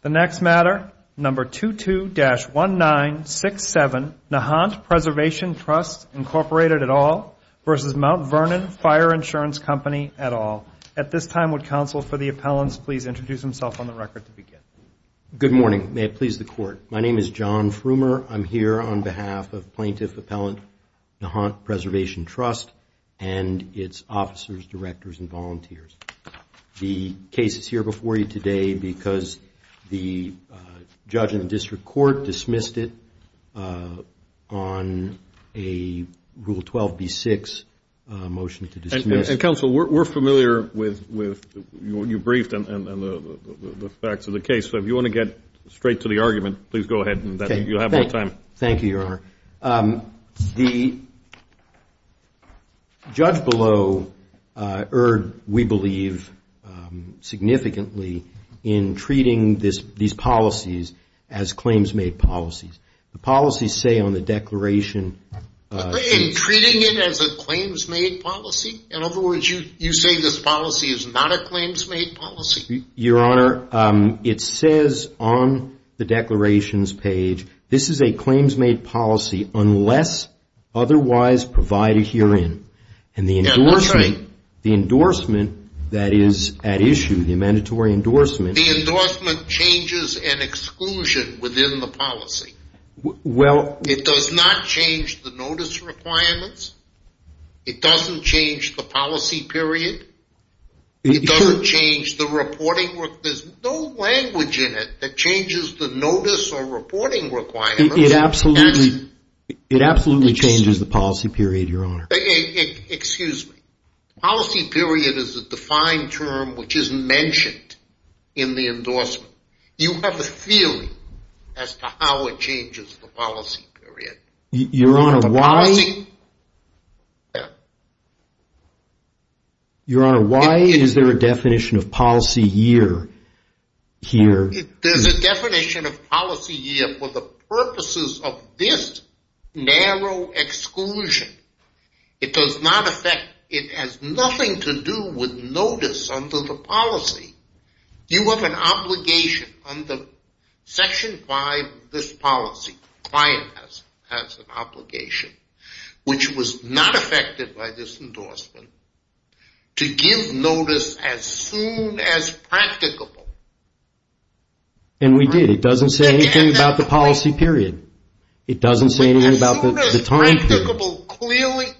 The next matter, No. 22-1967, Nahant Preservation Trust, Incorporated, et al. v. Mount Vernon Fire Insurance Company, et al. At this time, would counsel for the appellants please introduce themselves on the record to begin. Good morning. May it please the Court. My name is John Frumer. I'm here on behalf of Plaintiff Appellant Nahant Preservation Trust and its officers, directors, and volunteers. The case is here before you today because the judge in the district court dismissed it on a Rule 12b-6 motion to dismiss. And, counsel, we're familiar with what you briefed and the facts of the case. So if you want to get straight to the argument, please go ahead. You'll have more time. Thank you, Your Honor. The judge below erred, we believe, significantly in treating these policies as claims-made policies. The policies say on the declaration... In treating it as a claims-made policy? In other words, you say this policy is not a claims-made policy? Your Honor, it says on the declarations page, this is a claims-made policy unless otherwise provided herein. And the endorsement that is at issue, the mandatory endorsement... The endorsement changes an exclusion within the policy. It does not change the notice requirements. It doesn't change the policy period. It doesn't change the reporting. There's no language in it that changes the notice or reporting requirements. It absolutely changes the policy period, Your Honor. Excuse me. Policy period is a defined term which isn't mentioned in the endorsement. You have a feeling as to how it changes the policy period. Your Honor, why? Your Honor, why is there a definition of policy year here? There's a definition of policy year for the purposes of this narrow exclusion. It does not affect... It has nothing to do with notice under the policy. You have an obligation under Section 5 of this policy, client has an obligation, which was not affected by this endorsement, to give notice as soon as practicable. And we did. It doesn't say anything about the policy period. It doesn't say anything about the time period. As soon as practicable,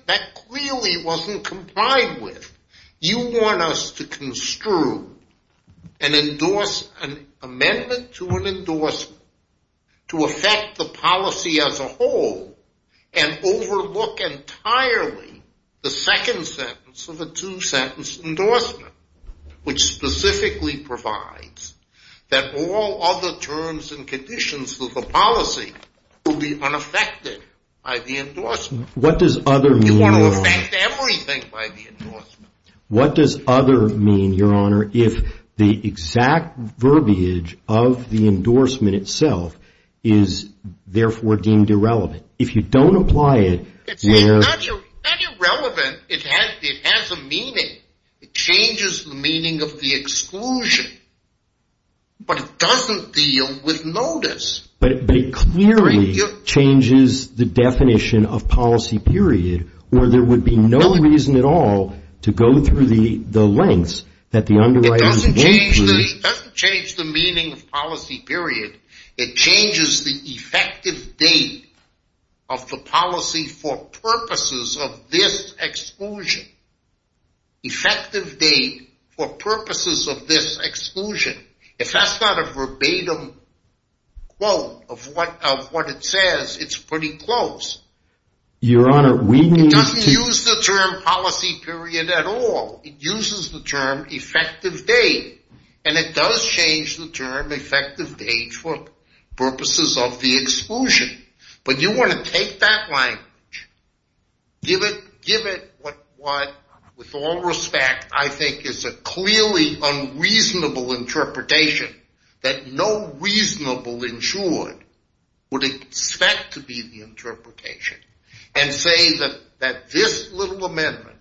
that clearly wasn't complied with. You want us to construe an amendment to an endorsement to affect the policy as a whole and overlook entirely the second sentence of a two-sentence endorsement, which specifically provides that all other terms and conditions of the policy will be unaffected by the endorsement. You want to affect everything by the endorsement. What does other mean, Your Honor, if the exact verbiage of the endorsement itself is therefore deemed irrelevant? If you don't apply it... It's not irrelevant. It has a meaning. It changes the meaning of the exclusion. But it doesn't deal with notice. But it clearly changes the definition of policy period, or there would be no reason at all to go through the lengths that the underwriting... It doesn't change the meaning of policy period. It changes the effective date of the policy for purposes of this exclusion. Effective date for purposes of this exclusion. If that's not a verbatim quote of what it says, it's pretty close. Your Honor, we need to... It doesn't use the term policy period at all. It uses the term effective date, and it does change the term effective date for purposes of the exclusion. But you want to take that language, give it what with all respect I think is a clearly unreasonable interpretation that no reasonable insured would expect to be the interpretation, and say that this little amendment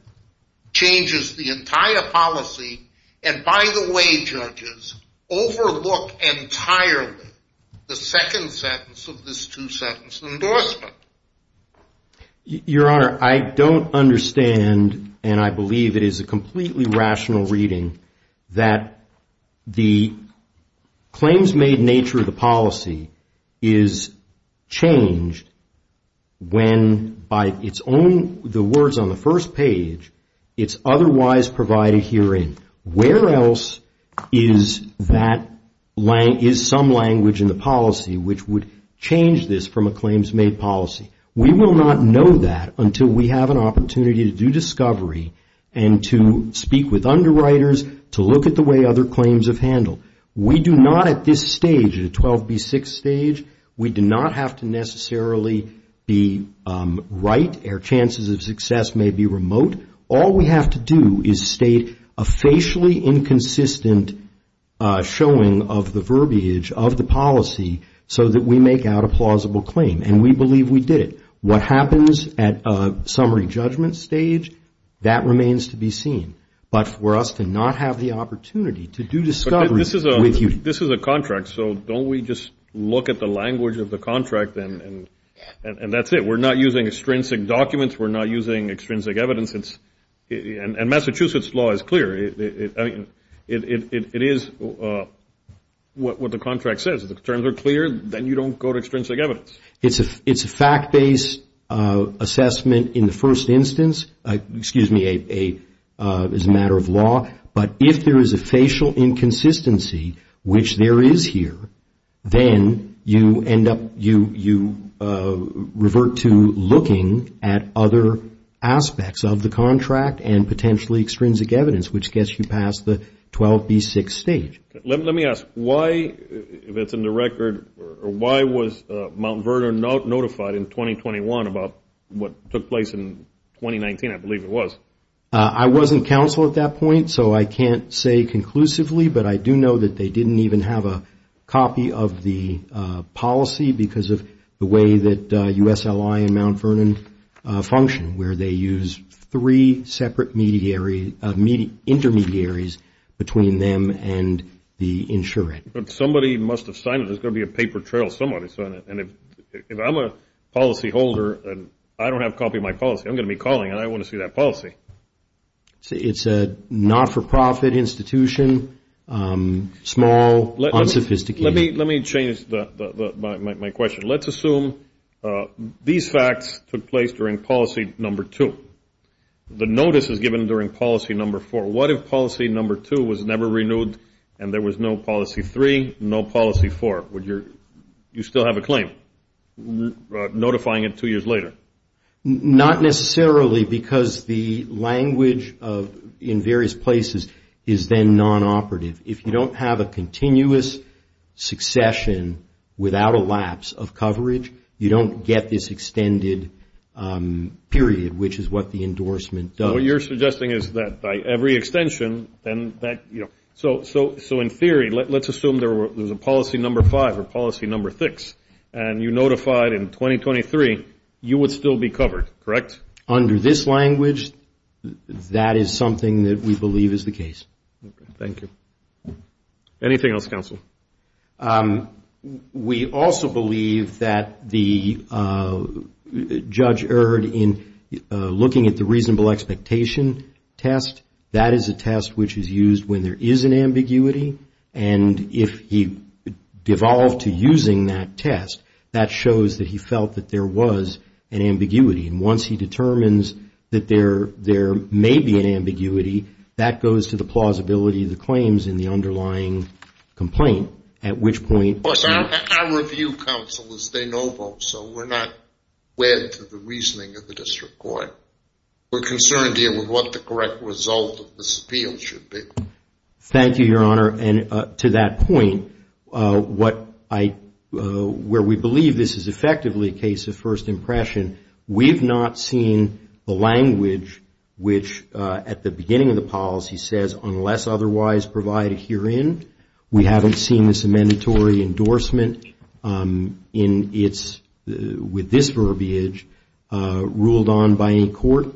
changes the entire policy, and by the way, judges, overlook entirely the second sentence of this two-sentence endorsement. Your Honor, I don't understand, and I believe it is a completely rational reading, that the claims made nature of the policy is changed when by its own... The words on the first page, it's otherwise provided herein. Where else is some language in the policy which would change this from a claims made policy? We will not know that until we have an opportunity to do discovery and to speak with underwriters to look at the way other claims have handled. We do not at this stage, at a 12B6 stage, we do not have to necessarily be right, our chances of success may be remote. All we have to do is state a facially inconsistent showing of the verbiage of the policy so that we make out a plausible claim, and we believe we did it. What happens at summary judgment stage, that remains to be seen. But for us to not have the opportunity to do discovery with you... But this is a contract, so don't we just look at the language of the contract and that's it. We're not using extrinsic documents, we're not using extrinsic evidence, and Massachusetts law is clear. It is what the contract says. If the terms are clear, then you don't go to extrinsic evidence. It's a fact-based assessment in the first instance, excuse me, as a matter of law. But if there is a facial inconsistency, which there is here, then you end up, you revert to looking at other aspects of the contract and potentially extrinsic evidence, which gets you past the 12B6 stage. Let me ask, why, if it's in the record, why was Mount Vernon notified in 2021 about what took place in 2019, I believe it was? I wasn't counsel at that point, so I can't say conclusively, but I do know that they didn't even have a copy of the policy because of the way that USLI and Mount Vernon function, where they use three separate intermediaries between them and the insurant. Somebody must have signed it. There's got to be a paper trail somewhere. And if I'm a policyholder and I don't have a copy of my policy, I'm going to be calling and I want to see that policy. It's a not-for-profit institution, small, unsophisticated. Let me change my question. Let's assume these facts took place during policy number two. The notice is given during policy number four. What if policy number two was never renewed and there was no policy three, no policy four? Would you still have a claim, notifying it two years later? Not necessarily because the language in various places is then non-operative. If you don't have a continuous succession without a lapse of coverage, you don't get this extended period, which is what the endorsement does. So what you're suggesting is that by every extension, then that, you know. So in theory, let's assume there was a policy number five or policy number six, and you notified in 2023, you would still be covered, correct? Under this language, that is something that we believe is the case. Thank you. Anything else, counsel? We also believe that the judge erred in looking at the reasonable expectation test. That is a test which is used when there is an ambiguity. And if he devolved to using that test, that shows that he felt that there was an ambiguity. And once he determines that there may be an ambiguity, that goes to the plausibility of the claims in the underlying complaint, at which point. I review counsel as they know both. So we're not wed to the reasoning of the district court. We're concerned dealing with what the correct result of this appeal should be. Thank you, Your Honor. And to that point, where we believe this is effectively a case of first impression, we've not seen the language which at the beginning of the policy says, unless otherwise provided herein, we haven't seen this mandatory endorsement with this verbiage ruled on by any court.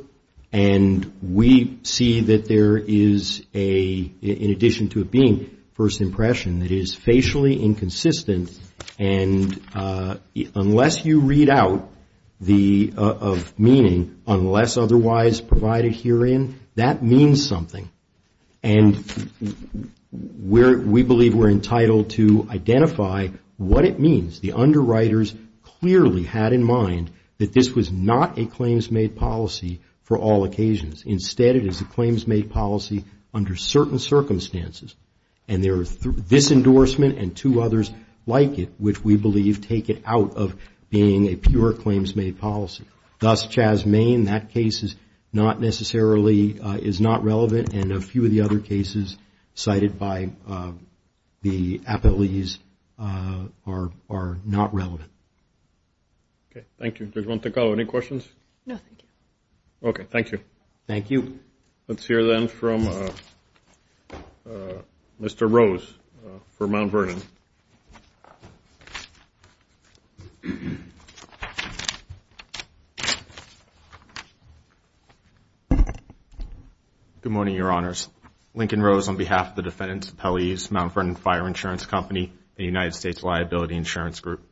And we see that there is a, in addition to it being first impression, it is facially inconsistent. And unless you read out the meaning, unless otherwise provided herein, that means something. And we believe we're entitled to identify what it means. The underwriters clearly had in mind that this was not a claims-made policy for all occasions. Instead, it is a claims-made policy under certain circumstances. And there is this endorsement and two others like it, which we believe take it out of being a pure claims-made policy. Thus, Chas Main, that case is not necessarily, is not relevant. And a few of the other cases cited by the appellees are not relevant. Okay, thank you. Judge Montecarlo, any questions? No, thank you. Okay, thank you. Thank you. Let's hear then from Mr. Rose for Mount Vernon. Thank you. Good morning, Your Honors. Lincoln Rose on behalf of the defendants appellees, Mount Vernon Fire Insurance Company, the United States Liability Insurance Group.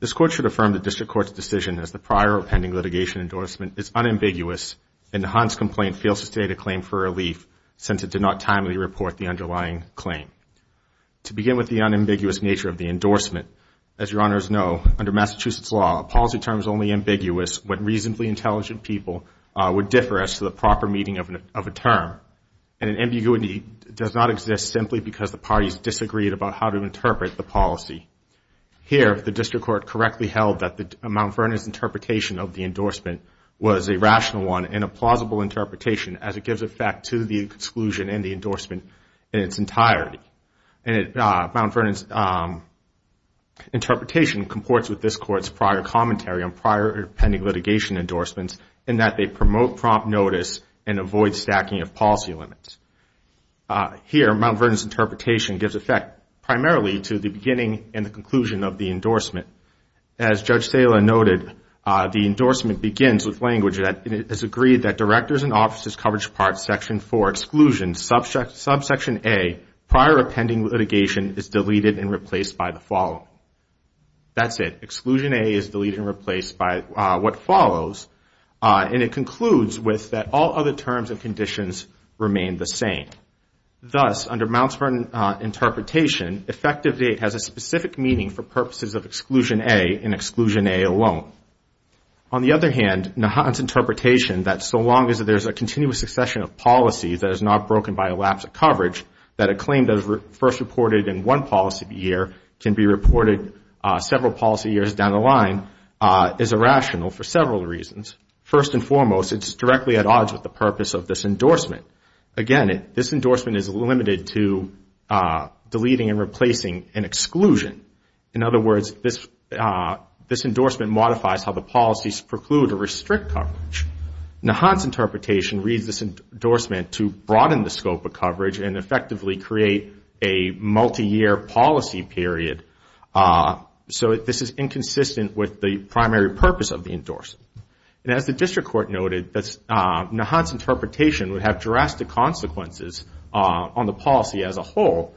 This court should affirm the district court's decision as the prior or pending litigation endorsement is unambiguous and Hans' complaint fails to state a claim for relief since it did not timely report the underlying claim. To begin with the unambiguous nature of the endorsement, as Your Honors know, under Massachusetts law, a policy term is only ambiguous when reasonably intelligent people would differ as to the proper meaning of a term. And an ambiguity does not exist simply because the parties disagreed about how to interpret the policy. Here, the district court correctly held that Mount Vernon's interpretation of the endorsement was a rational one and a plausible interpretation as it gives effect to the exclusion and the endorsement in its entirety. Mount Vernon's interpretation comports with this court's prior commentary on prior or pending litigation endorsements in that they promote prompt notice and avoid stacking of policy limits. Here, Mount Vernon's interpretation gives effect primarily to the beginning and the conclusion of the endorsement. As Judge Sala noted, the endorsement begins with language that is agreed that Directors and Officers Coverage Parts Section 4, Exclusion, subsection A, prior or pending litigation is deleted and replaced by the following. That's it. Exclusion A is deleted and replaced by what follows, and it concludes with that all other terms and conditions remain the same. Thus, under Mount Vernon's interpretation, effective date has a specific meaning for purposes of exclusion A and exclusion A alone. On the other hand, Nahant's interpretation, that so long as there's a continuous succession of policies that is not broken by a lapse of coverage, that a claim that is first reported in one policy year can be reported several policy years down the line is irrational for several reasons. First and foremost, it's directly at odds with the purpose of this endorsement. Again, this endorsement is limited to deleting and replacing an exclusion. In other words, this endorsement modifies how the policies preclude or restrict coverage. Nahant's interpretation reads this endorsement to broaden the scope of coverage and effectively create a multi-year policy period. So this is inconsistent with the primary purpose of the endorsement. And as the District Court noted, Nahant's interpretation would have drastic consequences on the policy as a whole.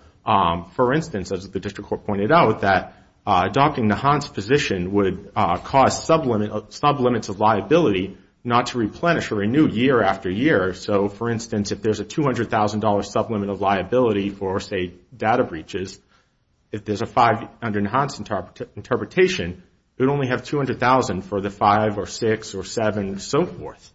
For instance, as the District Court pointed out, that adopting Nahant's position would cause sublimits of liability not to replenish or renew year after year. So, for instance, if there's a $200,000 sublimit of liability for, say, data breaches, if there's a $500,000 under Nahant's interpretation, you'd only have $200,000 for the five or six or seven and so forth.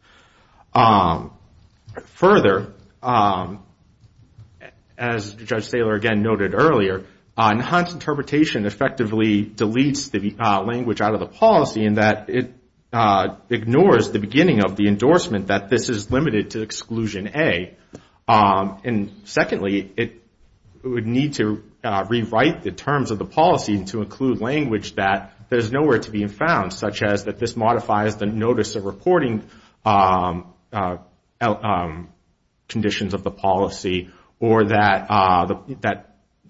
Further, as Judge Saylor again noted earlier, Nahant's interpretation effectively deletes the language out of the policy in that it ignores the beginning of the endorsement that this is limited to exclusion A. And secondly, it would need to rewrite the terms of the policy to include language that there's nowhere to be found, such as that this modifies the notice of reporting conditions of the policy or that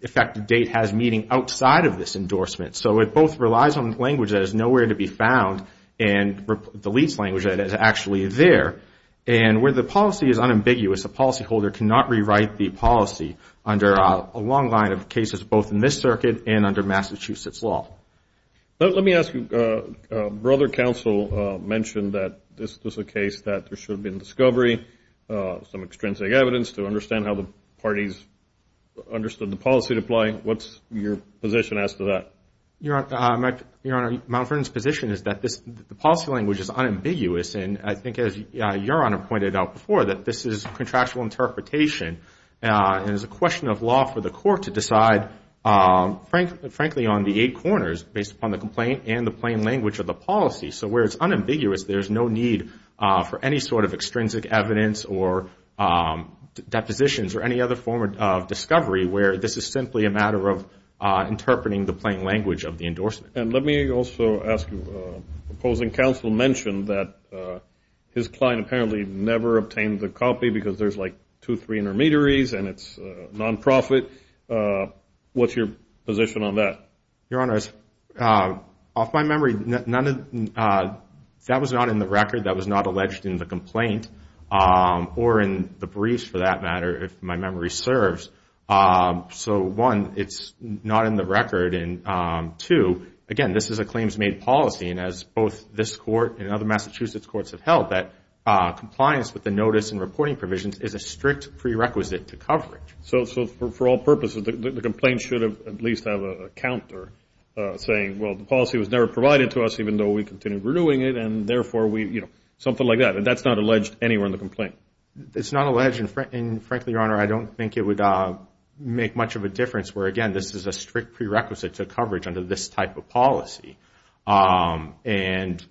effective date has meaning outside of this endorsement. So it both relies on language that is nowhere to be found and deletes language that is actually there. And where the policy is unambiguous, a policyholder cannot rewrite the policy under a long line of cases both in this circuit and under Massachusetts law. Let me ask you. Brother Counsel mentioned that this was a case that there should have been discovery, some extrinsic evidence to understand how the parties understood the policy to apply. What's your position as to that? Your Honor, Mount Vernon's position is that the policy language is unambiguous. And I think, as Your Honor pointed out before, that this is contractual interpretation. And it's a question of law for the court to decide, frankly, on the eight corners based upon the complaint and the plain language of the policy. So where it's unambiguous, there's no need for any sort of extrinsic evidence or depositions or any other form of discovery where this is simply a matter of interpreting the plain language of the endorsement. And let me also ask you, the opposing counsel mentioned that his client apparently never obtained the copy because there's like two or three intermediaries and it's non-profit. What's your position on that? Your Honor, off my memory, that was not in the record. That was not alleged in the complaint or in the briefs, for that matter, if my memory serves. So, one, it's not in the record. And, two, again, this is a claims-made policy. And as both this court and other Massachusetts courts have held, compliance with the notice and reporting provisions is a strict prerequisite to coverage. So for all purposes, the complaint should at least have a counter saying, well, the policy was never provided to us even though we continued renewing it, and therefore we, you know, something like that. And that's not alleged anywhere in the complaint? It's not alleged, and frankly, Your Honor, I don't think it would make much of a difference where, again, this is a strict prerequisite to coverage under this type of policy. And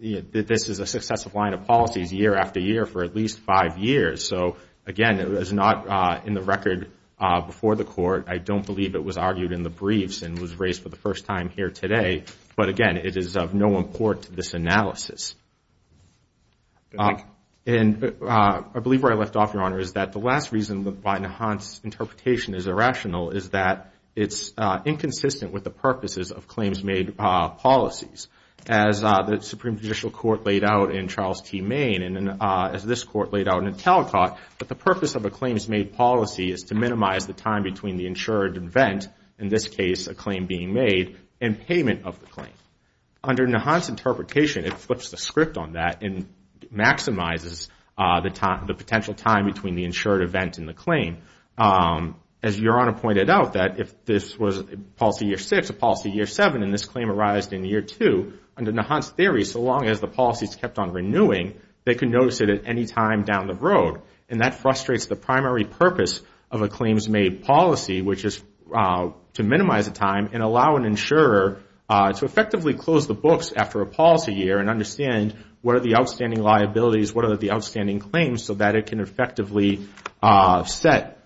this is a successive line of policies year after year for at least five years. So, again, it was not in the record before the court. I don't believe it was argued in the briefs and was raised for the first time here today. But, again, it is of no import to this analysis. And I believe where I left off, Your Honor, is that the last reason why Nahant's interpretation is irrational is that it's inconsistent with the purposes of claims made policies. As the Supreme Judicial Court laid out in Charles T. Main, and as this court laid out in Talcott, that the purpose of a claims made policy is to minimize the time between the insured event, in this case a claim being made, and payment of the claim. Under Nahant's interpretation, it flips the script on that and maximizes the potential time between the insured event and the claim. As Your Honor pointed out, that if this was a policy year six, a policy year seven, and this claim arised in year two, under Nahant's theory, so long as the policy is kept on renewing, they can notice it at any time down the road. And that frustrates the primary purpose of a claims made policy, which is to minimize the time and allow an insurer to effectively close the books after a policy year and understand what are the outstanding liabilities, what are the outstanding claims, so that it can effectively set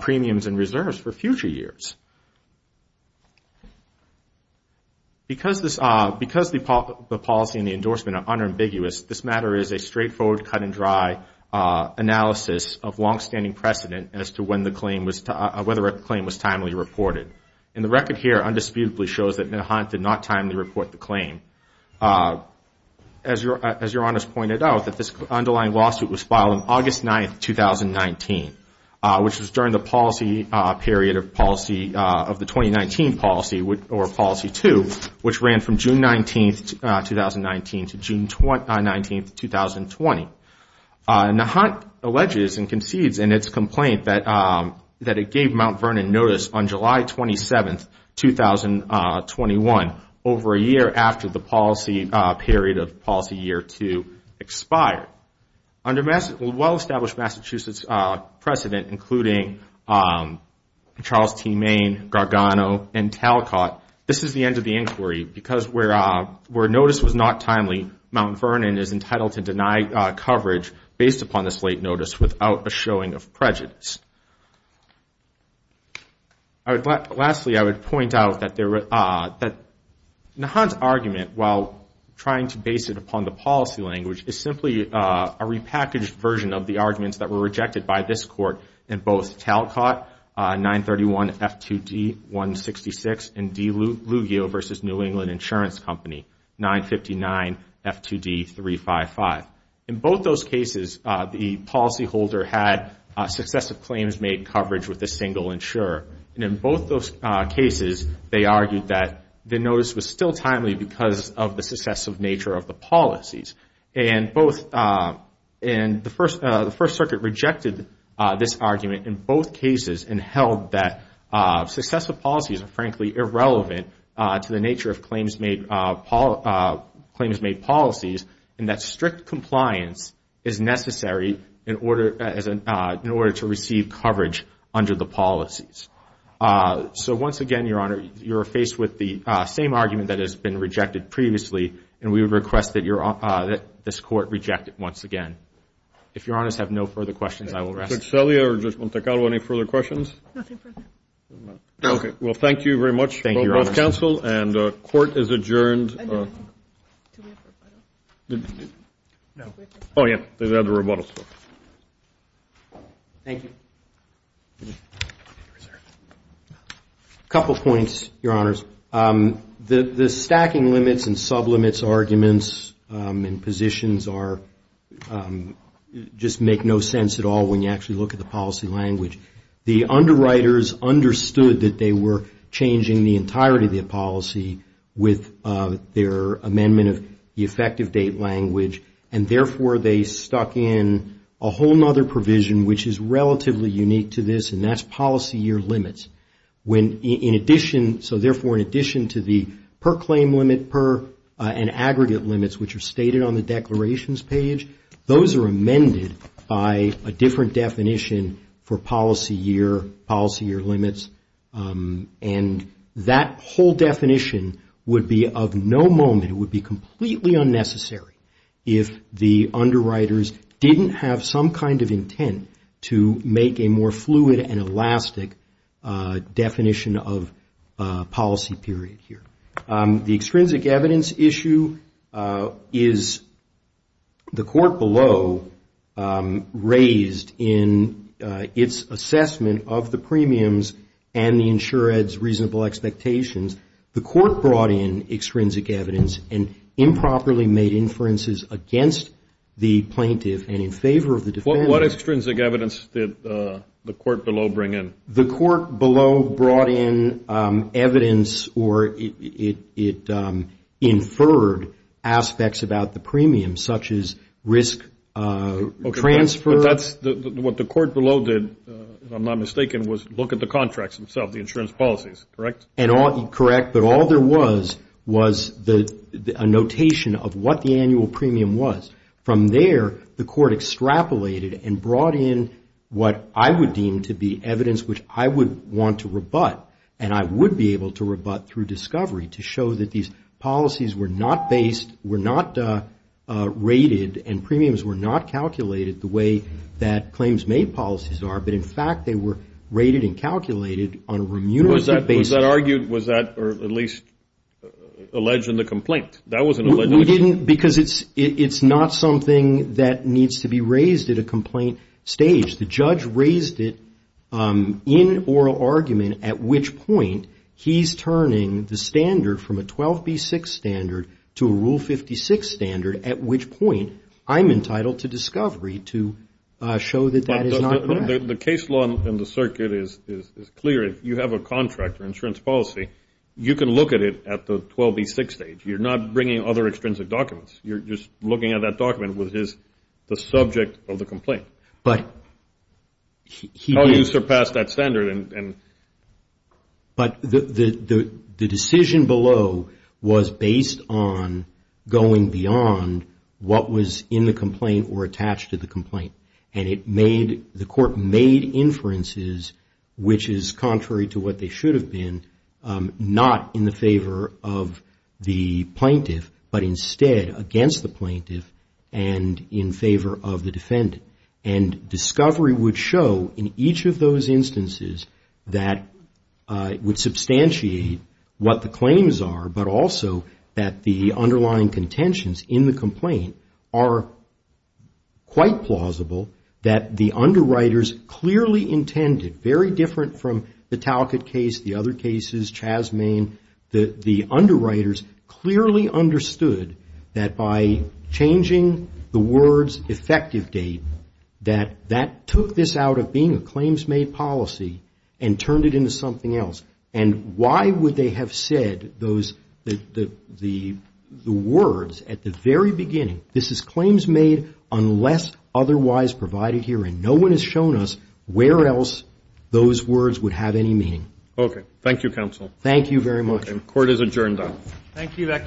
premiums and reserves for future years. Because the policy and the endorsement are unambiguous, this matter is a straightforward, cut and dry analysis of longstanding precedent as to whether a claim was timely reported. And the record here undisputedly shows that Nahant did not timely report the claim. As Your Honor has pointed out, that this underlying lawsuit was filed on August 9th, 2019, which was during the policy period of the 2019 policy, or policy two, which ran from June 19th, 2019 to June 19th, 2020. Nahant alleges and concedes in its complaint that it gave Mount Vernon notice on July 27th, 2021, over a year after the policy period of policy year two expired. Under well-established Massachusetts precedent, including Charles T. Main, Gargano, and Talcott, this is the end of the inquiry because where notice was not timely, Mount Vernon is entitled to deny coverage based upon this late notice without a showing of prejudice. Lastly, I would point out that Nahant's argument, while trying to base it upon the policy language, is simply a repackaged version of the arguments that were rejected by this Court in both Talcott, 931 F2D 166, and DiLuglio v. New England Insurance Company, 959 F2D 355. In both those cases, the policyholder had successive claims made coverage with a single insurer. And in both those cases, they argued that the notice was still timely because of the successive nature of the policies. And the First Circuit rejected this argument in both cases and held that successive policies are frankly irrelevant to the nature of claims made policies, and that strict compliance is necessary in order to receive coverage under the policies. So once again, Your Honor, you are faced with the same argument that has been rejected previously, and we would request that this Court reject it once again. If Your Honors have no further questions, I will rest. Judge Celia or Judge Montecalvo, any further questions? Nothing further. Thank you, Your Honor. Thank you, counsel, and court is adjourned. Do we have rebuttal? No. Oh, yeah. They have the rebuttal. Thank you. A couple of points, Your Honors. The stacking limits and sublimates arguments and positions just make no sense at all when you actually look at the policy language. The underwriters understood that they were changing the entirety of the policy with their amendment of the effective date language, and therefore they stuck in a whole nother provision which is relatively unique to this, and that's policy year limits. When in addition, so therefore in addition to the per-claim limit and aggregate limits, which are stated on the declarations page, those are amended by a different definition for policy year, policy year limits, and that whole definition would be of no moment, it would be completely unnecessary if the underwriters didn't have some kind of intent to make a more fluid and elastic definition of policy period here. The extrinsic evidence issue is the court below raised in its assessment of the premiums and the insured's reasonable expectations. The court brought in extrinsic evidence and improperly made inferences against the plaintiff and in favor of the defendant. What extrinsic evidence did the court below bring in? The court below brought in evidence or it inferred aspects about the premiums, such as risk transfer. What the court below did, if I'm not mistaken, was look at the contracts themselves, the insurance policies, correct? Correct, but all there was was a notation of what the annual premium was. From there, the court extrapolated and brought in what I would deem to be evidence which I would want to rebut and I would be able to rebut through discovery to show that these policies were not based, were not rated, and premiums were not calculated the way that claims made policies are, but in fact they were rated and calculated on a remunerative basis. Was that argued, was that at least alleged in the complaint? We didn't because it's not something that needs to be raised at a complaint stage. The judge raised it in oral argument at which point he's turning the standard from a 12B6 standard to a Rule 56 standard at which point I'm entitled to discovery to show that that is not correct. The case law in the circuit is clear. If you have a contract or insurance policy, you can look at it at the 12B6 stage. You're not bringing other extrinsic documents. You're just looking at that document which is the subject of the complaint. How do you surpass that standard? The decision below was based on going beyond what was in the complaint or attached to the complaint. The court made inferences which is contrary to what they should have been, not in the favor of the plaintiff, but instead against the plaintiff and in favor of the defendant. Discovery would show in each of those instances that it would substantiate what the claims are, but also that the underlying contentions in the complaint are quite plausible that the underwriters clearly intended, very different from the Talcott case, the other cases, Chaz Main, the underwriters clearly understood that by changing the words effective date, that that took this out of being a claims-made policy and turned it into something else. And why would they have said the words at the very beginning, this is claims made unless otherwise provided here, and no one has shown us where else those words would have any meaning. Okay. Thank you, counsel. Thank you very much. Court is adjourned. Thank you.